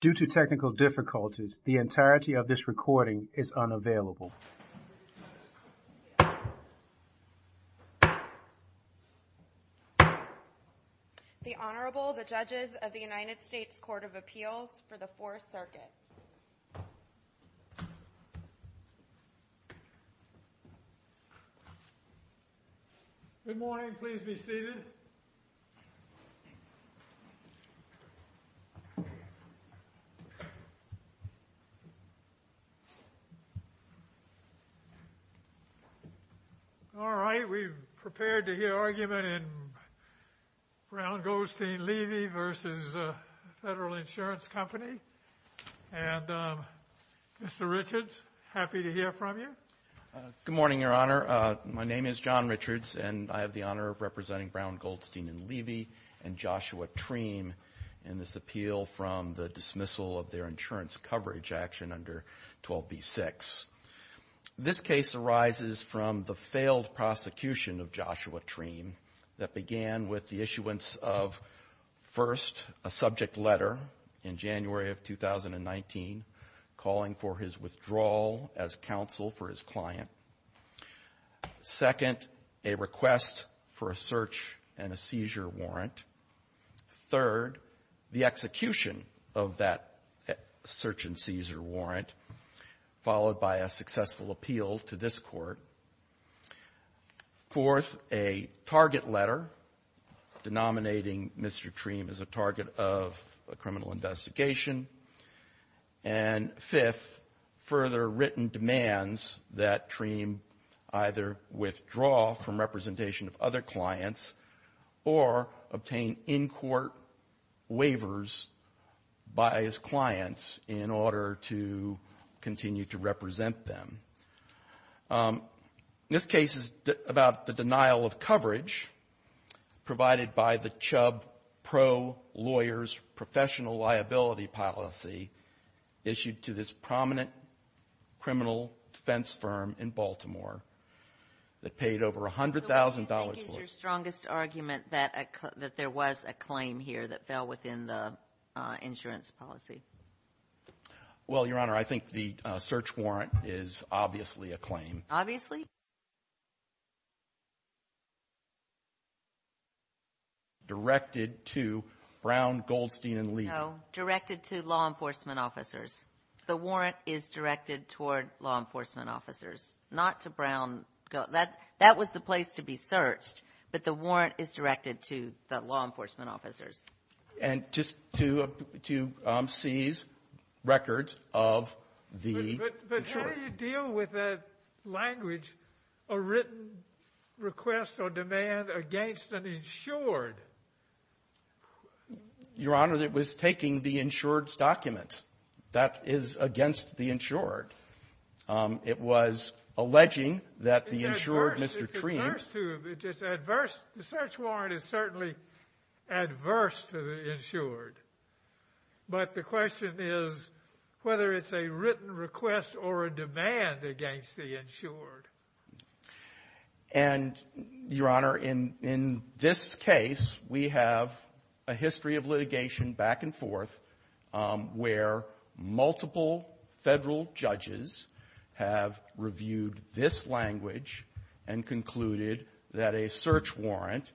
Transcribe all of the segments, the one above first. Due to technical difficulties, the entirety of this recording is unavailable. The Honorable the Judges of the United States Court of Appeals for the Fourth Circuit. Good morning, please be seated. All right. We're prepared to hear argument in Brown Goldstein Levy v. Federal Insurance Company. And Mr. Richards, happy to hear from you. Good morning, Your Honor. My name is John Richards, and I have the honor of representing Brown Goldstein Levy and Joshua Treem in this appeal from the dismissal of their insurance coverage action under 12b6. This case arises from the failed prosecution of Joshua Treem that began with the issuance of, first, a subject letter in January of 2019 calling for his withdrawal as counsel for his client, second, a request for a search and a seizure warrant, third, the execution of that search and seizure warrant, followed by a successful appeal to this Court, fourth, a target letter denominating Mr. Treem as a target of a criminal investigation, and fifth, further written demands that Treem either withdraw from representation of other clients or obtain in-court waivers by his clients in order to continue to represent them. This case is about the denial of coverage provided by the Chubb Pro-Lawyers Professional Liability Policy issued to this prominent criminal defense firm in Baltimore that paid over $100,000 for it. So what do you think is your strongest argument that there was a claim here that fell within the insurance policy? Well, Your Honor, I think the search warrant is obviously a claim. Obviously? Directed to Brown Goldstein and Levy. No. Directed to law enforcement officers. The warrant is directed toward law enforcement officers, not to Brown Goldstein. So that was the place to be searched, but the warrant is directed to the law enforcement officers. And just to seize records of the insured. But how do you deal with a language, a written request or demand against an insured? Your Honor, it was taking the insured's documents. That is against the insured. It was alleging that the insured, Mr. Treene It's adverse to, it's adverse, the search warrant is certainly adverse to the insured, but the question is whether it's a written request or a demand against the insured. And Your Honor, in this case, we have a history of litigation back and forth where multiple federal judges have reviewed this language and concluded that a search warrant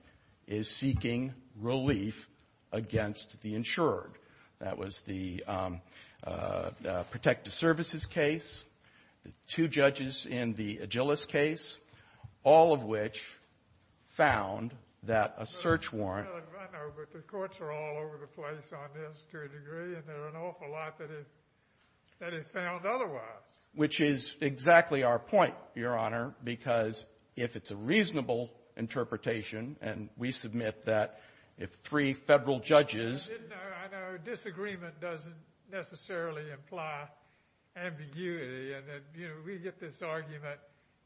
is seeking relief against the insured. That was the protective services case, the two judges in the Agilis case, all of which found that a search warrant I know, but the courts are all over the place on this to a degree, and there are an awful lot that it found otherwise. Which is exactly our point, Your Honor, because if it's a reasonable interpretation, and we submit that if three federal judges I know disagreement doesn't necessarily imply ambiguity, and we get this argument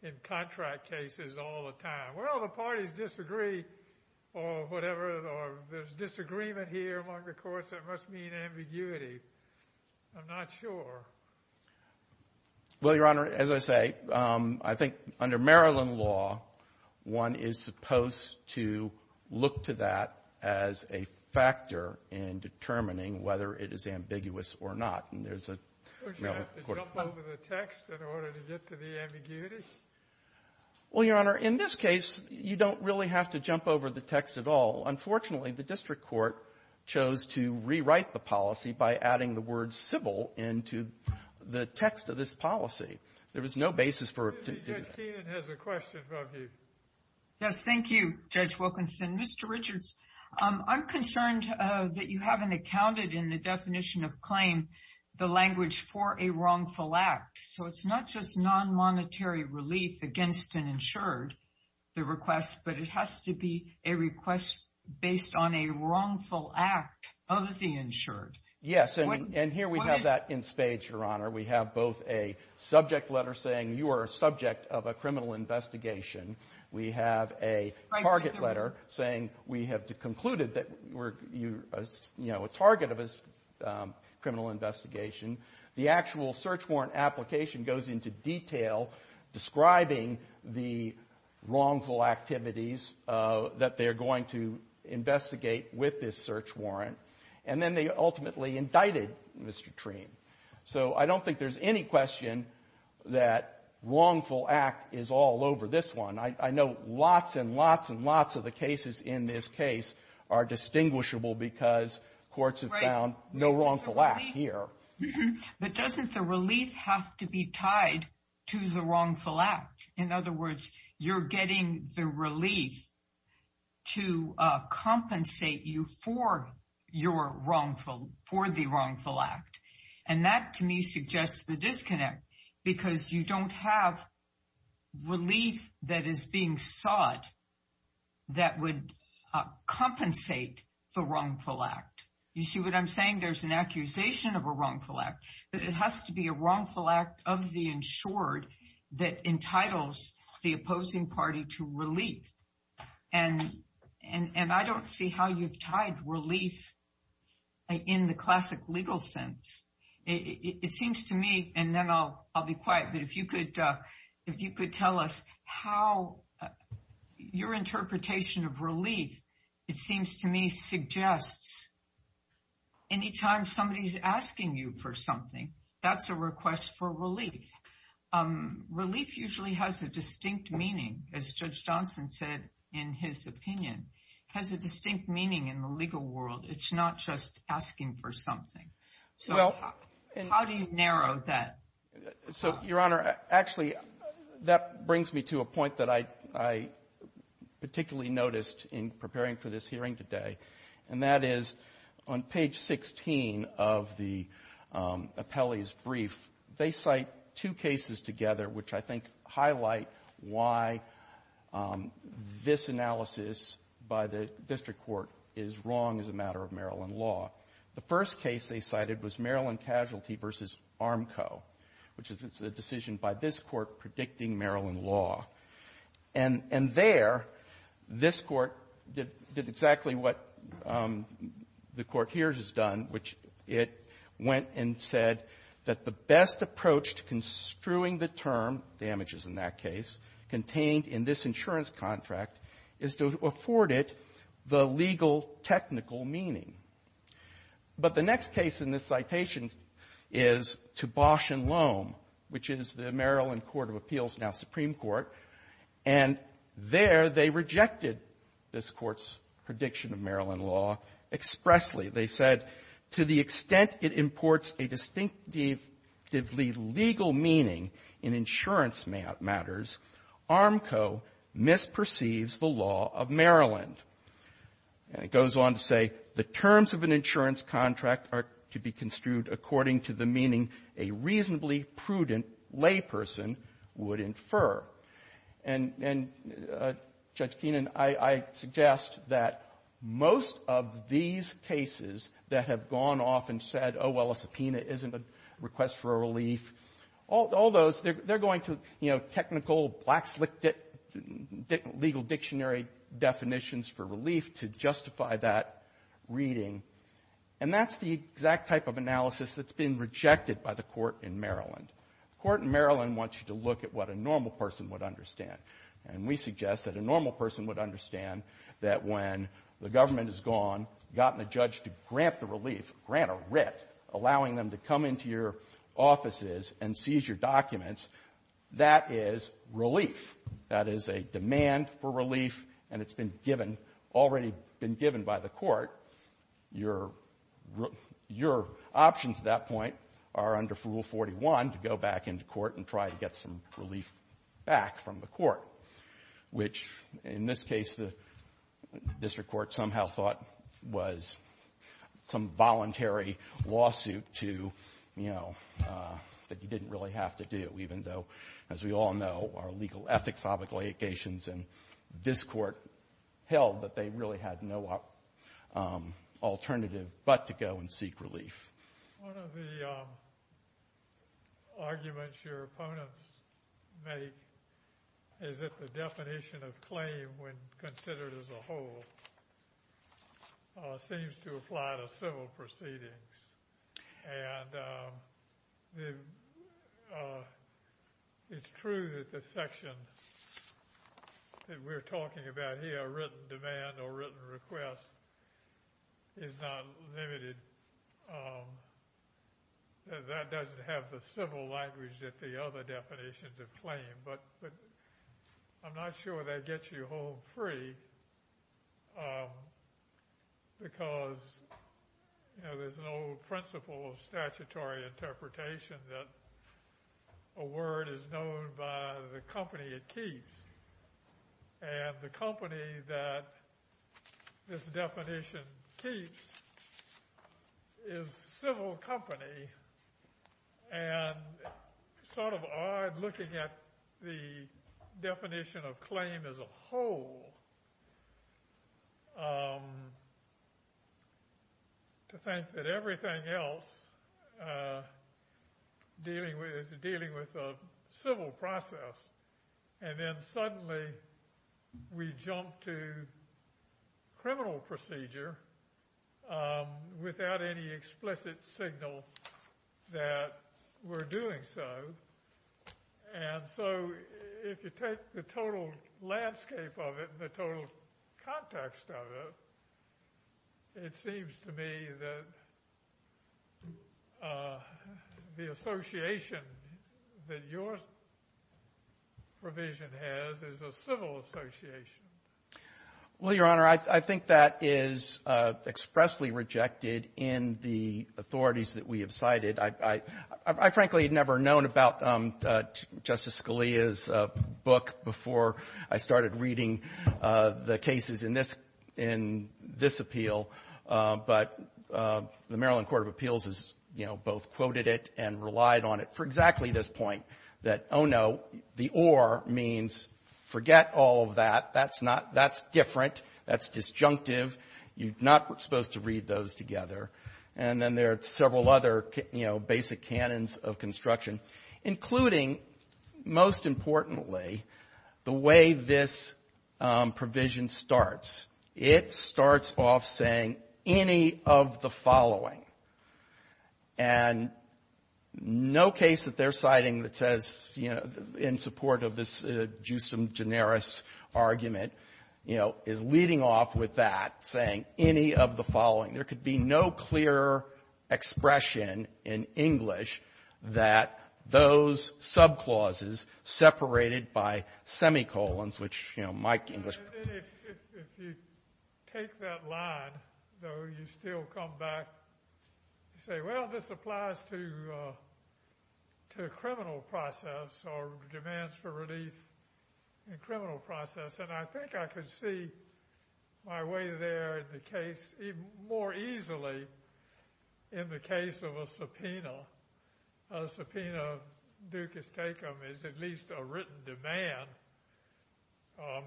in contract cases all the time. Well, the parties disagree or whatever, or there's disagreement here among the courts that must mean ambiguity. I'm not sure. Well, Your Honor, as I say, I think under Maryland law, one is supposed to look to that as a factor in determining whether it is ambiguous or not, and there's a Don't you have to jump over the text in order to get to the ambiguity? Well, Your Honor, in this case, you don't really have to jump over the text at all. Unfortunately, the district court chose to rewrite the policy by adding the word civil into the text of this policy. There was no basis for it to do that. Judge Keenan has a question for you. Yes. Thank you, Judge Wilkinson. Mr. Richards, I'm concerned that you haven't accounted in the definition of claim the language for a wrongful act. So it's not just non-monetary relief against an insured, the request, but it has to be a request based on a wrongful act of the insured. Yes, and here we have that in spades, Your Honor. We have both a subject letter saying you are a subject of a criminal investigation. We have a target letter saying we have concluded that you're a target of a criminal investigation. The actual search warrant application goes into detail describing the wrongful activities that they're going to investigate with this search warrant. And then they ultimately indicted Mr. Treene. So I don't think there's any question that wrongful act is all over this one. I know lots and lots and lots of the cases in this case are distinguishable because courts have found no wrongful act here. But doesn't the relief have to be tied to the wrongful act? In other words, you're getting the relief to compensate you for your wrongful, for the wrongful act. And that, to me, suggests the disconnect because you don't have relief that is being sought that would compensate the wrongful act. You see what I'm saying? There's an accusation of a wrongful act, but it has to be a wrongful act of the insured that entitles the opposing party to relief. And I don't see how you've tied relief in the classic legal sense. It seems to me, and then I'll be quiet, but if you could tell us how your interpretation of relief, it seems to me, suggests anytime somebody's asking you for something, that's a request for relief. Relief usually has a distinct meaning, as Judge Johnson said in his opinion, has a distinct meaning in the legal world. It's not just asking for something. So how do you narrow that? So, Your Honor, actually, that brings me to a point that I particularly noticed in preparing for this hearing today, and that is on page 16 of the appellee's brief, they cite two cases together which I think highlight why this analysis by the district court is wrong as a matter of Maryland law. The first case they cited was Maryland Casualty v. Armco, which is a decision by this Court predicting Maryland law. And there, this Court did exactly what the Court here has done, which it went and said that the best approach to construing the term, damages in that case, contained in this insurance contract is to afford it the legal technical meaning. But the next case in this citation is to Bosch and Lohm, which is the Maryland Court of Appeals, now Supreme Court. And there, they rejected this Court's prediction of Maryland law expressly. They said, to the extent it imports a distinctly legal meaning in insurance matters, Armco misperceives the law of Maryland. And it goes on to say, the terms of an insurance contract are to be construed according to the meaning a reasonably prudent layperson would infer. And, Judge Keenan, I suggest that most of these cases that have gone off and said, oh, well, a subpoena isn't a request for a relief, all those, they're going to, you know, technical black-slit legal dictionary definitions for relief to justify that reading. And that's the exact type of analysis that's been rejected by the Court in Maryland. The Court in Maryland wants you to look at what a normal person would understand. And we suggest that a normal person would understand that when the government has gone, gotten a judge to grant the relief, grant a writ, allowing them to come into your offices and seize your documents, that is relief. That is a demand for relief, and it's been given, already been given by the Court. Your options at that point are under Rule 41 to go back into court and try to get some relief back from the Court, which, in this case, the District Court somehow thought was some thing, you know, that you didn't really have to do, even though, as we all know, our legal ethics obligations in this Court held that they really had no alternative but to go and seek relief. One of the arguments your opponents make is that the definition of claim, when it's true that the section that we're talking about here, written demand or written request, is not limited. That doesn't have the civil language that the other definitions of claim, but I'm not sure that gets you home free because, you know, there's an old principle of statutory interpretation that a word is known by the company it keeps, and the company that this definition keeps is civil company, and it's sort of odd looking at the definition of claim as a whole to think that everything else is dealing with a civil process, and then suddenly we jump to criminal procedure without any explicit signal that we're doing so. And so, if you take the total landscape of it, the total context of it, it seems to me that the association that your provision has is a civil association. Well, Your Honor, I think that is expressly rejected in the authorities that we have cited. I frankly had never known about Justice Scalia's book before I started reading the cases in this appeal, but the Maryland Court of Appeals has, you know, both quoted it and relied on it for exactly this point, that, oh, no, the or means forget all of that. That's different. That's disjunctive. You're not supposed to read those together. And then there are several other, you know, basic canons of construction, including, most importantly, the way this case that they're citing that says, you know, in support of this jusem generis argument, you know, is leading off with that, saying any of the following. There could be no clear expression in English that those subclauses separated by semicolons, which, you know, to criminal process or demands for relief in criminal process. And I think I could see my way there in the case even more easily in the case of a subpoena. A subpoena ducis tecum is at least a written demand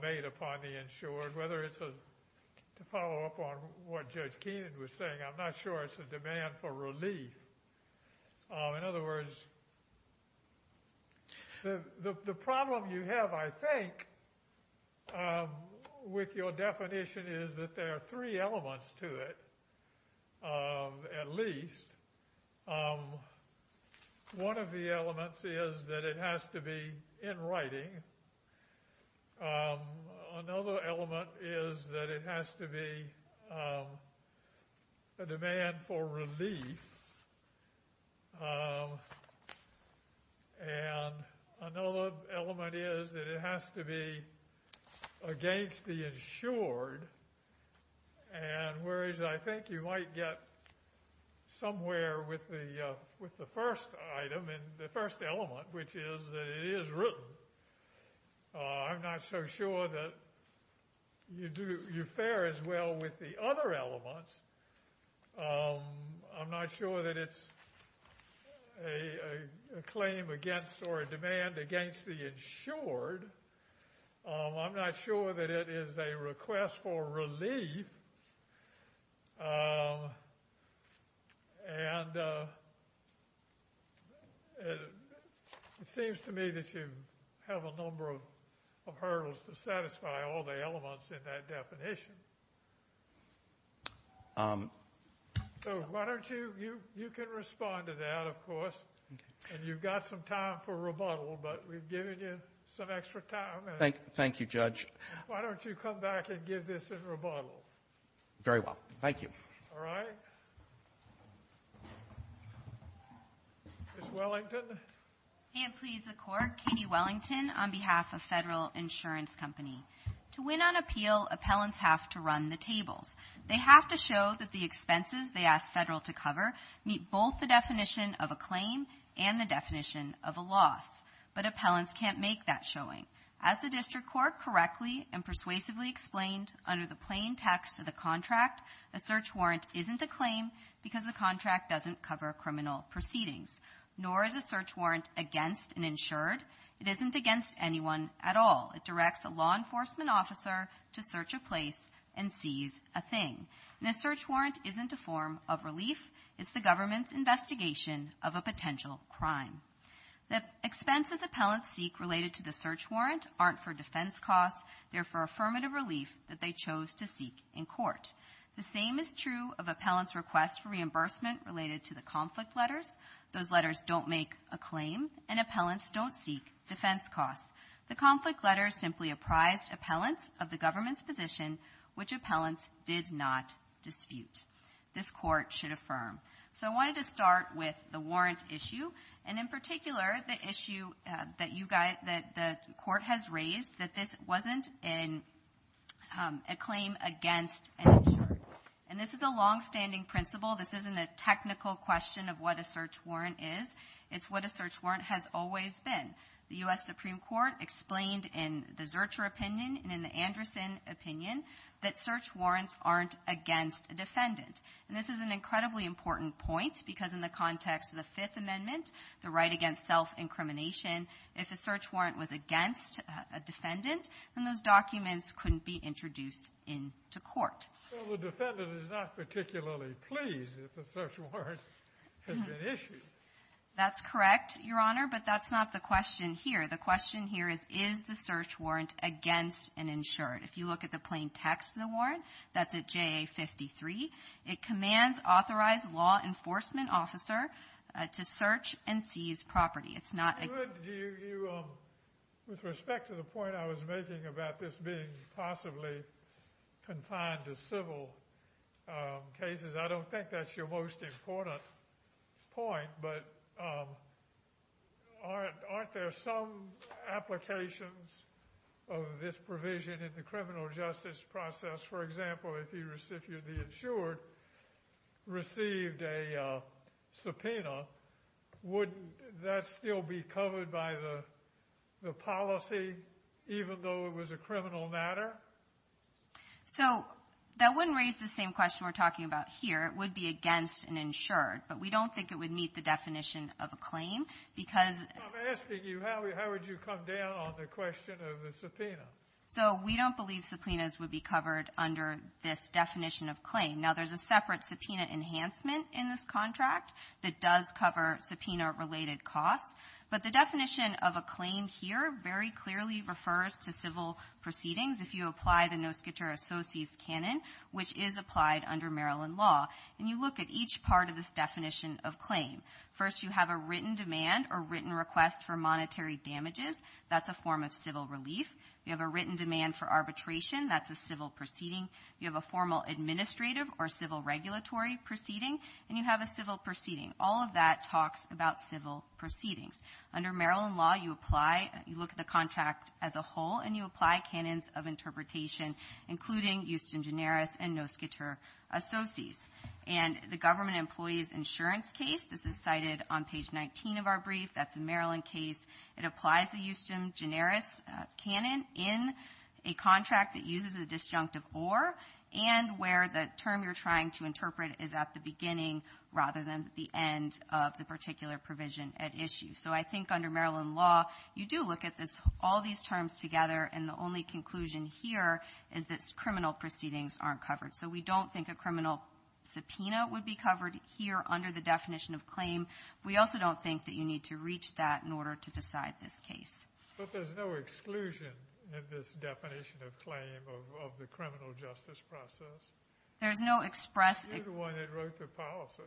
made upon the insured, whether it's a, to follow up on what Judge Keenan was saying, I'm not sure it's a demand for relief. In other words, the problem you have, I think, with your definition is that there are three elements to it, at least. One of the elements is that it has to be in writing. Another element is that it has to be a demand for relief. And another element is that it has to be against the insured. And whereas I think you might get somewhere with the first item and the first element, which is that it is written, I'm not so sure that you do, you fare as well with the other elements. I'm not sure that it's a claim against or a demand against the insured. I'm not sure that it is a request for relief. And it seems to me that you have a number of hurdles to satisfy all the elements in that definition. So why don't you, you can respond to that, of course, and you've got some time for rebuttal, but we've given you some extra time. Thank you, Judge. Why don't you come back and give this a rebuttal? Very well. Thank you. All right. Ms. Wellington. Can't please the Court. Katie Wellington on behalf of Federal Insurance Company. To win on appeal, appellants have to run the tables. They have to show that the expenses they ask Federal to cover meet both the definition of a claim and the definition of a loss. But court correctly and persuasively explained under the plain text of the contract, a search warrant isn't a claim because the contract doesn't cover criminal proceedings, nor is a search warrant against an insured. It isn't against anyone at all. It directs a law enforcement officer to search a place and seize a thing. And a search warrant isn't a form of relief. It's the government's investigation of a potential crime. The expenses appellants seek related to the search warrant aren't for defense costs. They're for affirmative relief that they chose to seek in court. The same is true of appellants' request for reimbursement related to the conflict letters. Those letters don't make a claim, and appellants don't seek defense costs. The conflict letters simply apprised appellants of the government's position, which appellants did not dispute. This Court should affirm. So I wanted to start with the warrant issue, and in particular, the issue that you guys, that the Court has raised, that this wasn't a claim against an insured. And this is a longstanding principle. This isn't a technical question of what a search warrant is. It's what a search warrant has always been. The U.S. Supreme Court explained in the Zurcher opinion and in the Anderson opinion that search warrants aren't against a defendant. And this is an incredibly important point because in the context of the Fifth Amendment, the right against self-incrimination, if a search warrant was against a defendant, then those documents couldn't be introduced into court. So the defendant is not particularly pleased if a search warrant has been issued. That's correct, Your Honor, but that's not the question here. The question here is, is the search warrant against an insured? If you look at the plain text of the warrant, that's at JA-53. It commands authorized law enforcement officer to search and seize property. It's not a... But do you, with respect to the point I was making about this being possibly confined to civil cases, I don't think that's your most important point, but aren't there some applications of this provision in the criminal justice process? For example, if the insured received a subpoena, wouldn't that still be covered by the policy, even though it was a criminal matter? So that wouldn't raise the same question we're talking about here. It would be against an insured, but we don't think it would meet the definition of a claim because... I'm asking you, how would you come down on the question of the subpoena? So we don't believe subpoenas would be covered under this definition of claim. Now, there's a separate subpoena enhancement in this contract that does cover subpoena-related costs, but the definition of a claim here very clearly refers to civil proceedings if you apply the Noskiter Associates canon, which is applied under Maryland law. And you look at each part of this definition of claim. First, you have a written demand or written request for monetary damages. That's a form of civil relief. You have a written demand for arbitration. That's a civil proceeding. You have a formal administrative or civil regulatory proceeding, and you have a civil proceeding. All of that talks about civil proceedings. Under Maryland law, you apply, you look at the contract as a whole, and you apply canons of interpretation, including Euston-Generis and Noskiter Associates. And the government employee's insurance case, this is cited on page 19 of our brief, that's a Maryland case, it applies the Euston-Generis canon in a contract that uses a disjunctive or, and where the term you're trying to interpret is at the beginning rather than at the end of the particular provision at issue. So I think under Maryland law, you do look at this, all these terms together, and the only conclusion here is that criminal proceedings aren't covered. So we don't think a criminal subpoena would be covered here under the definition of claim. We also don't think that you need to reach that in order to decide this case. But there's no exclusion in this definition of claim of the criminal justice process? There's no express ex- You're the one that wrote the policy.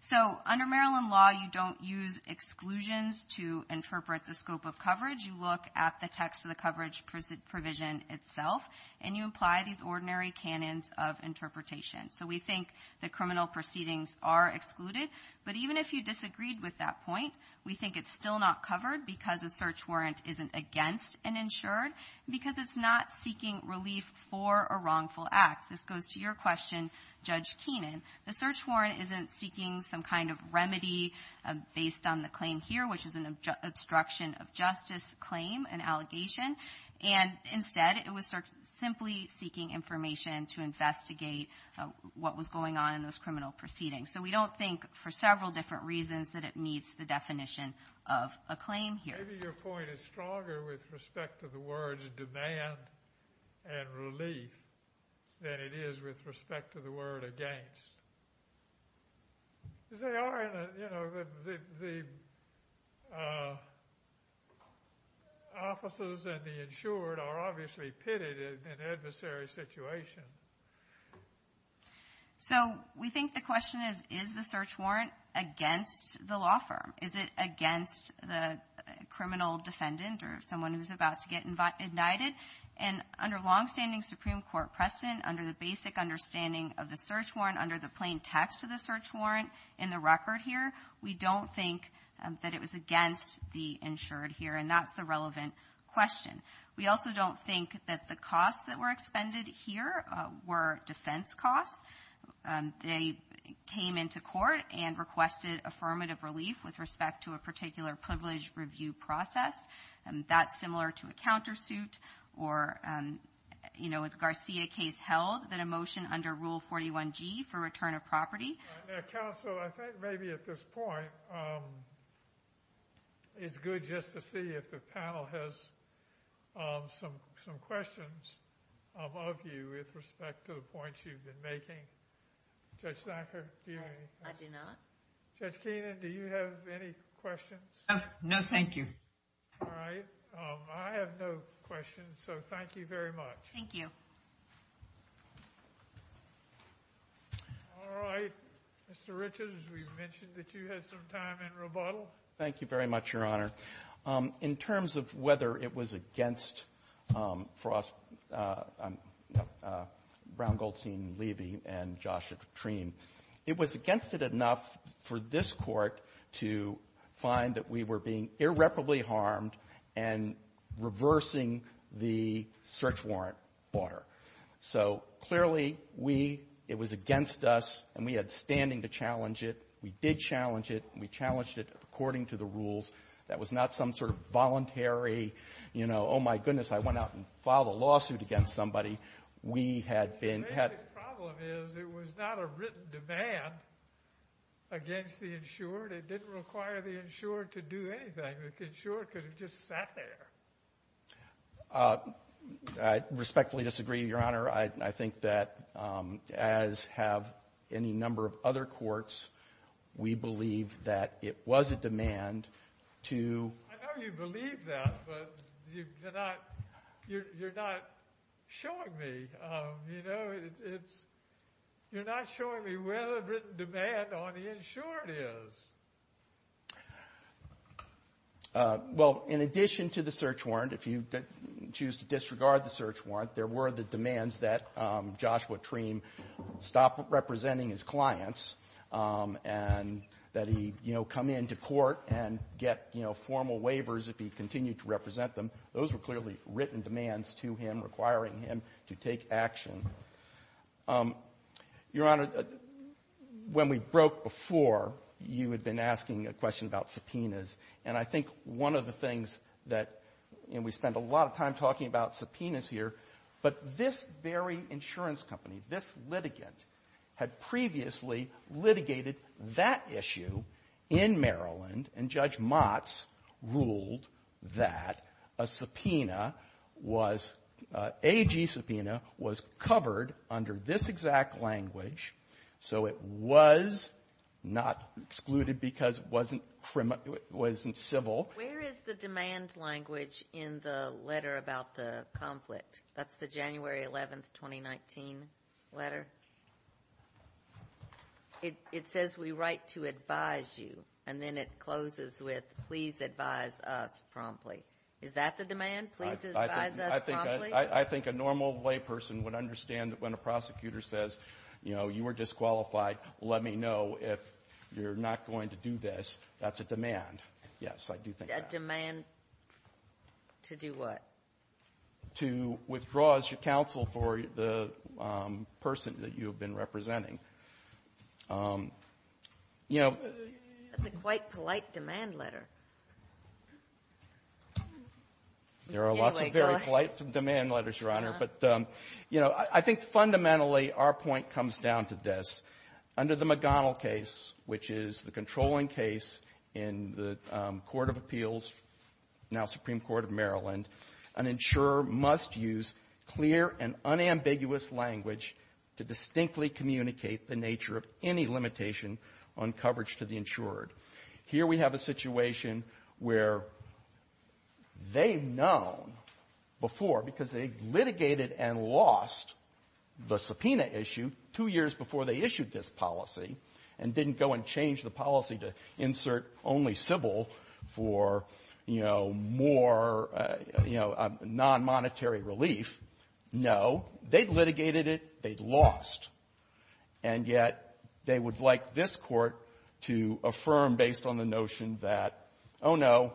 So under Maryland law, you don't use exclusions to interpret the scope of coverage. You look at the text of the coverage provision itself, and you apply these ordinary canons of interpretation. So we think that criminal proceedings are excluded. But even if you disagreed with that point, we think it's still not covered because a search warrant isn't against an insured, because it's not seeking relief for a wrongful act. This goes to your question, Judge Keenan. The search warrant isn't seeking some kind of remedy based on the claim here, which is an obstruction of justice claim, an allegation, and instead, it was simply seeking information to investigate what was going on in those criminal proceedings. So we don't think, for several different reasons, that it meets the definition of a claim here. Maybe your point is stronger with respect to the words demand and relief than it is with respect to the word against. Because they are, you know, the officers and the insured are obviously pitted in an adversary situation. So we think the question is, is the search warrant against the law firm? Is it against the criminal defendant or someone who's about to get indicted? And under longstanding Supreme Court precedent, under the basic understanding of the search warrant, under the plain text of the search warrant in the record here, we don't think that it was against the insured here. And that's the relevant question. We also don't think that the costs that were expended here were defense costs. They came into court and requested affirmative relief with respect to a particular privilege review process. That's similar to a countersuit or, you know, with Garcia case held, that a motion under Rule 41G for return of property. Now, counsel, I think maybe at this point, it's good just to see if the panel has some questions of you with respect to the points you've been making. Judge Sackler, do you have any? I do not. Judge Keenan, do you have any questions? No, thank you. All right. I have no questions. So thank you very much. Thank you. All right. Mr. Richards, we've mentioned that you had some time in rebuttal. Thank you very much, Your Honor. In terms of whether it was against Brown, Goldstein, Leiby, and Joshua Treene, it was against it enough for this Court to find that we were being irreparably harmed and reversing the search warrant order. So clearly, we — it was against us, and we had standing to challenge it. We did challenge it, and we challenged it according to the rules. That was not some sort of voluntary, you know, oh, my goodness, I went out and filed a lawsuit against somebody. We had been — The problem is it was not a written demand against the insured. It didn't require the insured to do anything. The insured could have just sat there. I respectfully disagree, Your Honor. I think that, as have any number of other courts, we believe that it was a demand to — I know you believe that, but you're not — you're not showing me, you know, it's — you're not showing me where the written demand on the insured is. Well, in addition to the search warrant, if you choose to disregard the search warrant, there were the demands that Joshua Treene stop representing his clients and that he, you know, come into court and get, you know, formal waivers if he continued to represent them. Those were clearly written demands to him requiring him to take action. Your Honor, when we broke before, you had been asking a question about subpoenas. And I think one of the things that — and we spent a lot of time talking about subpoenas here, but this very insurance company, this litigant, had previously litigated that issue in Maryland, and Judge Motts ruled that a subpoena was — AG subpoena was covered under this exact language. So it was not excluded because it wasn't civil. Where is the demand language in the letter about the conflict? That's the January 11th, 2019 letter. It says, we write to advise you, and then it closes with, please advise us promptly. Is that the demand, please advise us promptly? I think a normal layperson would understand that when a prosecutor says, you know, you are disqualified, let me know if you're not going to do this. That's a demand. Yes, I do think that. A demand to do what? To withdraw as your counsel for the person that you have been representing. You know — That's a quite polite demand letter. There are lots of very polite demand letters, Your Honor. But, you know, I think fundamentally our point comes down to this. Under the McDonnell case, which is the controlling case in the Court of Appeals, now Supreme Court of Maryland, an insurer must use clear and unambiguous language to distinctly communicate the nature of any limitation on coverage to the insurer. Here we have a situation where they've known before, because they litigated and lost the subpoena issue two years before they issued this policy, and didn't go and change the policy to insert only civil for, you know, more, you know, nonmonetary relief. No. They litigated it. They lost. And yet they would like this Court to affirm, based on the notion that, oh, no,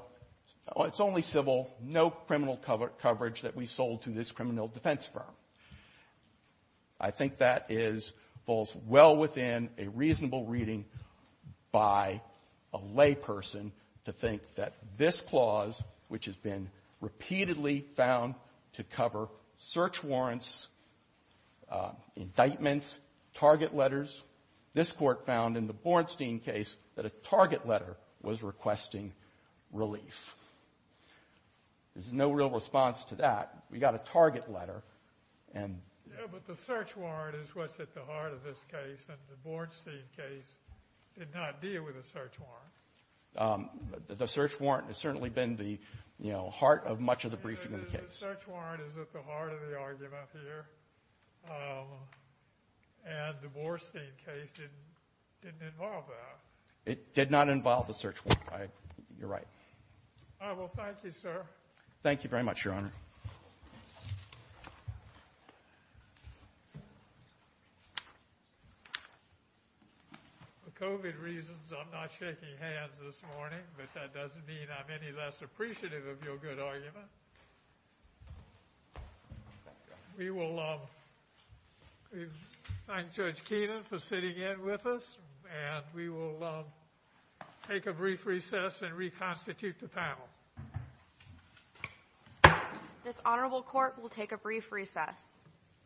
it's only civil, no criminal coverage that we sold to this criminal defense firm. I think that is — falls well within a reasonable reading by a layperson to think that this clause, which has been repeatedly found to cover search warrants, indictments, target letters, this Court found in the Bornstein case that a target letter was requesting relief. There's no real response to that. We got a target letter, and — Yeah, but the search warrant is what's at the heart of this case, and the Bornstein case did not deal with a search warrant. The search warrant has certainly been the, you know, heart of much of the briefing in the case. The search warrant is at the heart of the argument here, and the Bornstein case didn't involve that. It did not involve a search warrant. You're right. All right. Well, thank you, sir. Thank you very much, Your Honor. For COVID reasons, I'm not shaking hands this morning, but that doesn't mean I'm any less appreciative of your good argument. We will thank Judge Keenan for sitting in with us, and we will take a brief recess and reconstitute the panel. This honorable court will take a brief recess.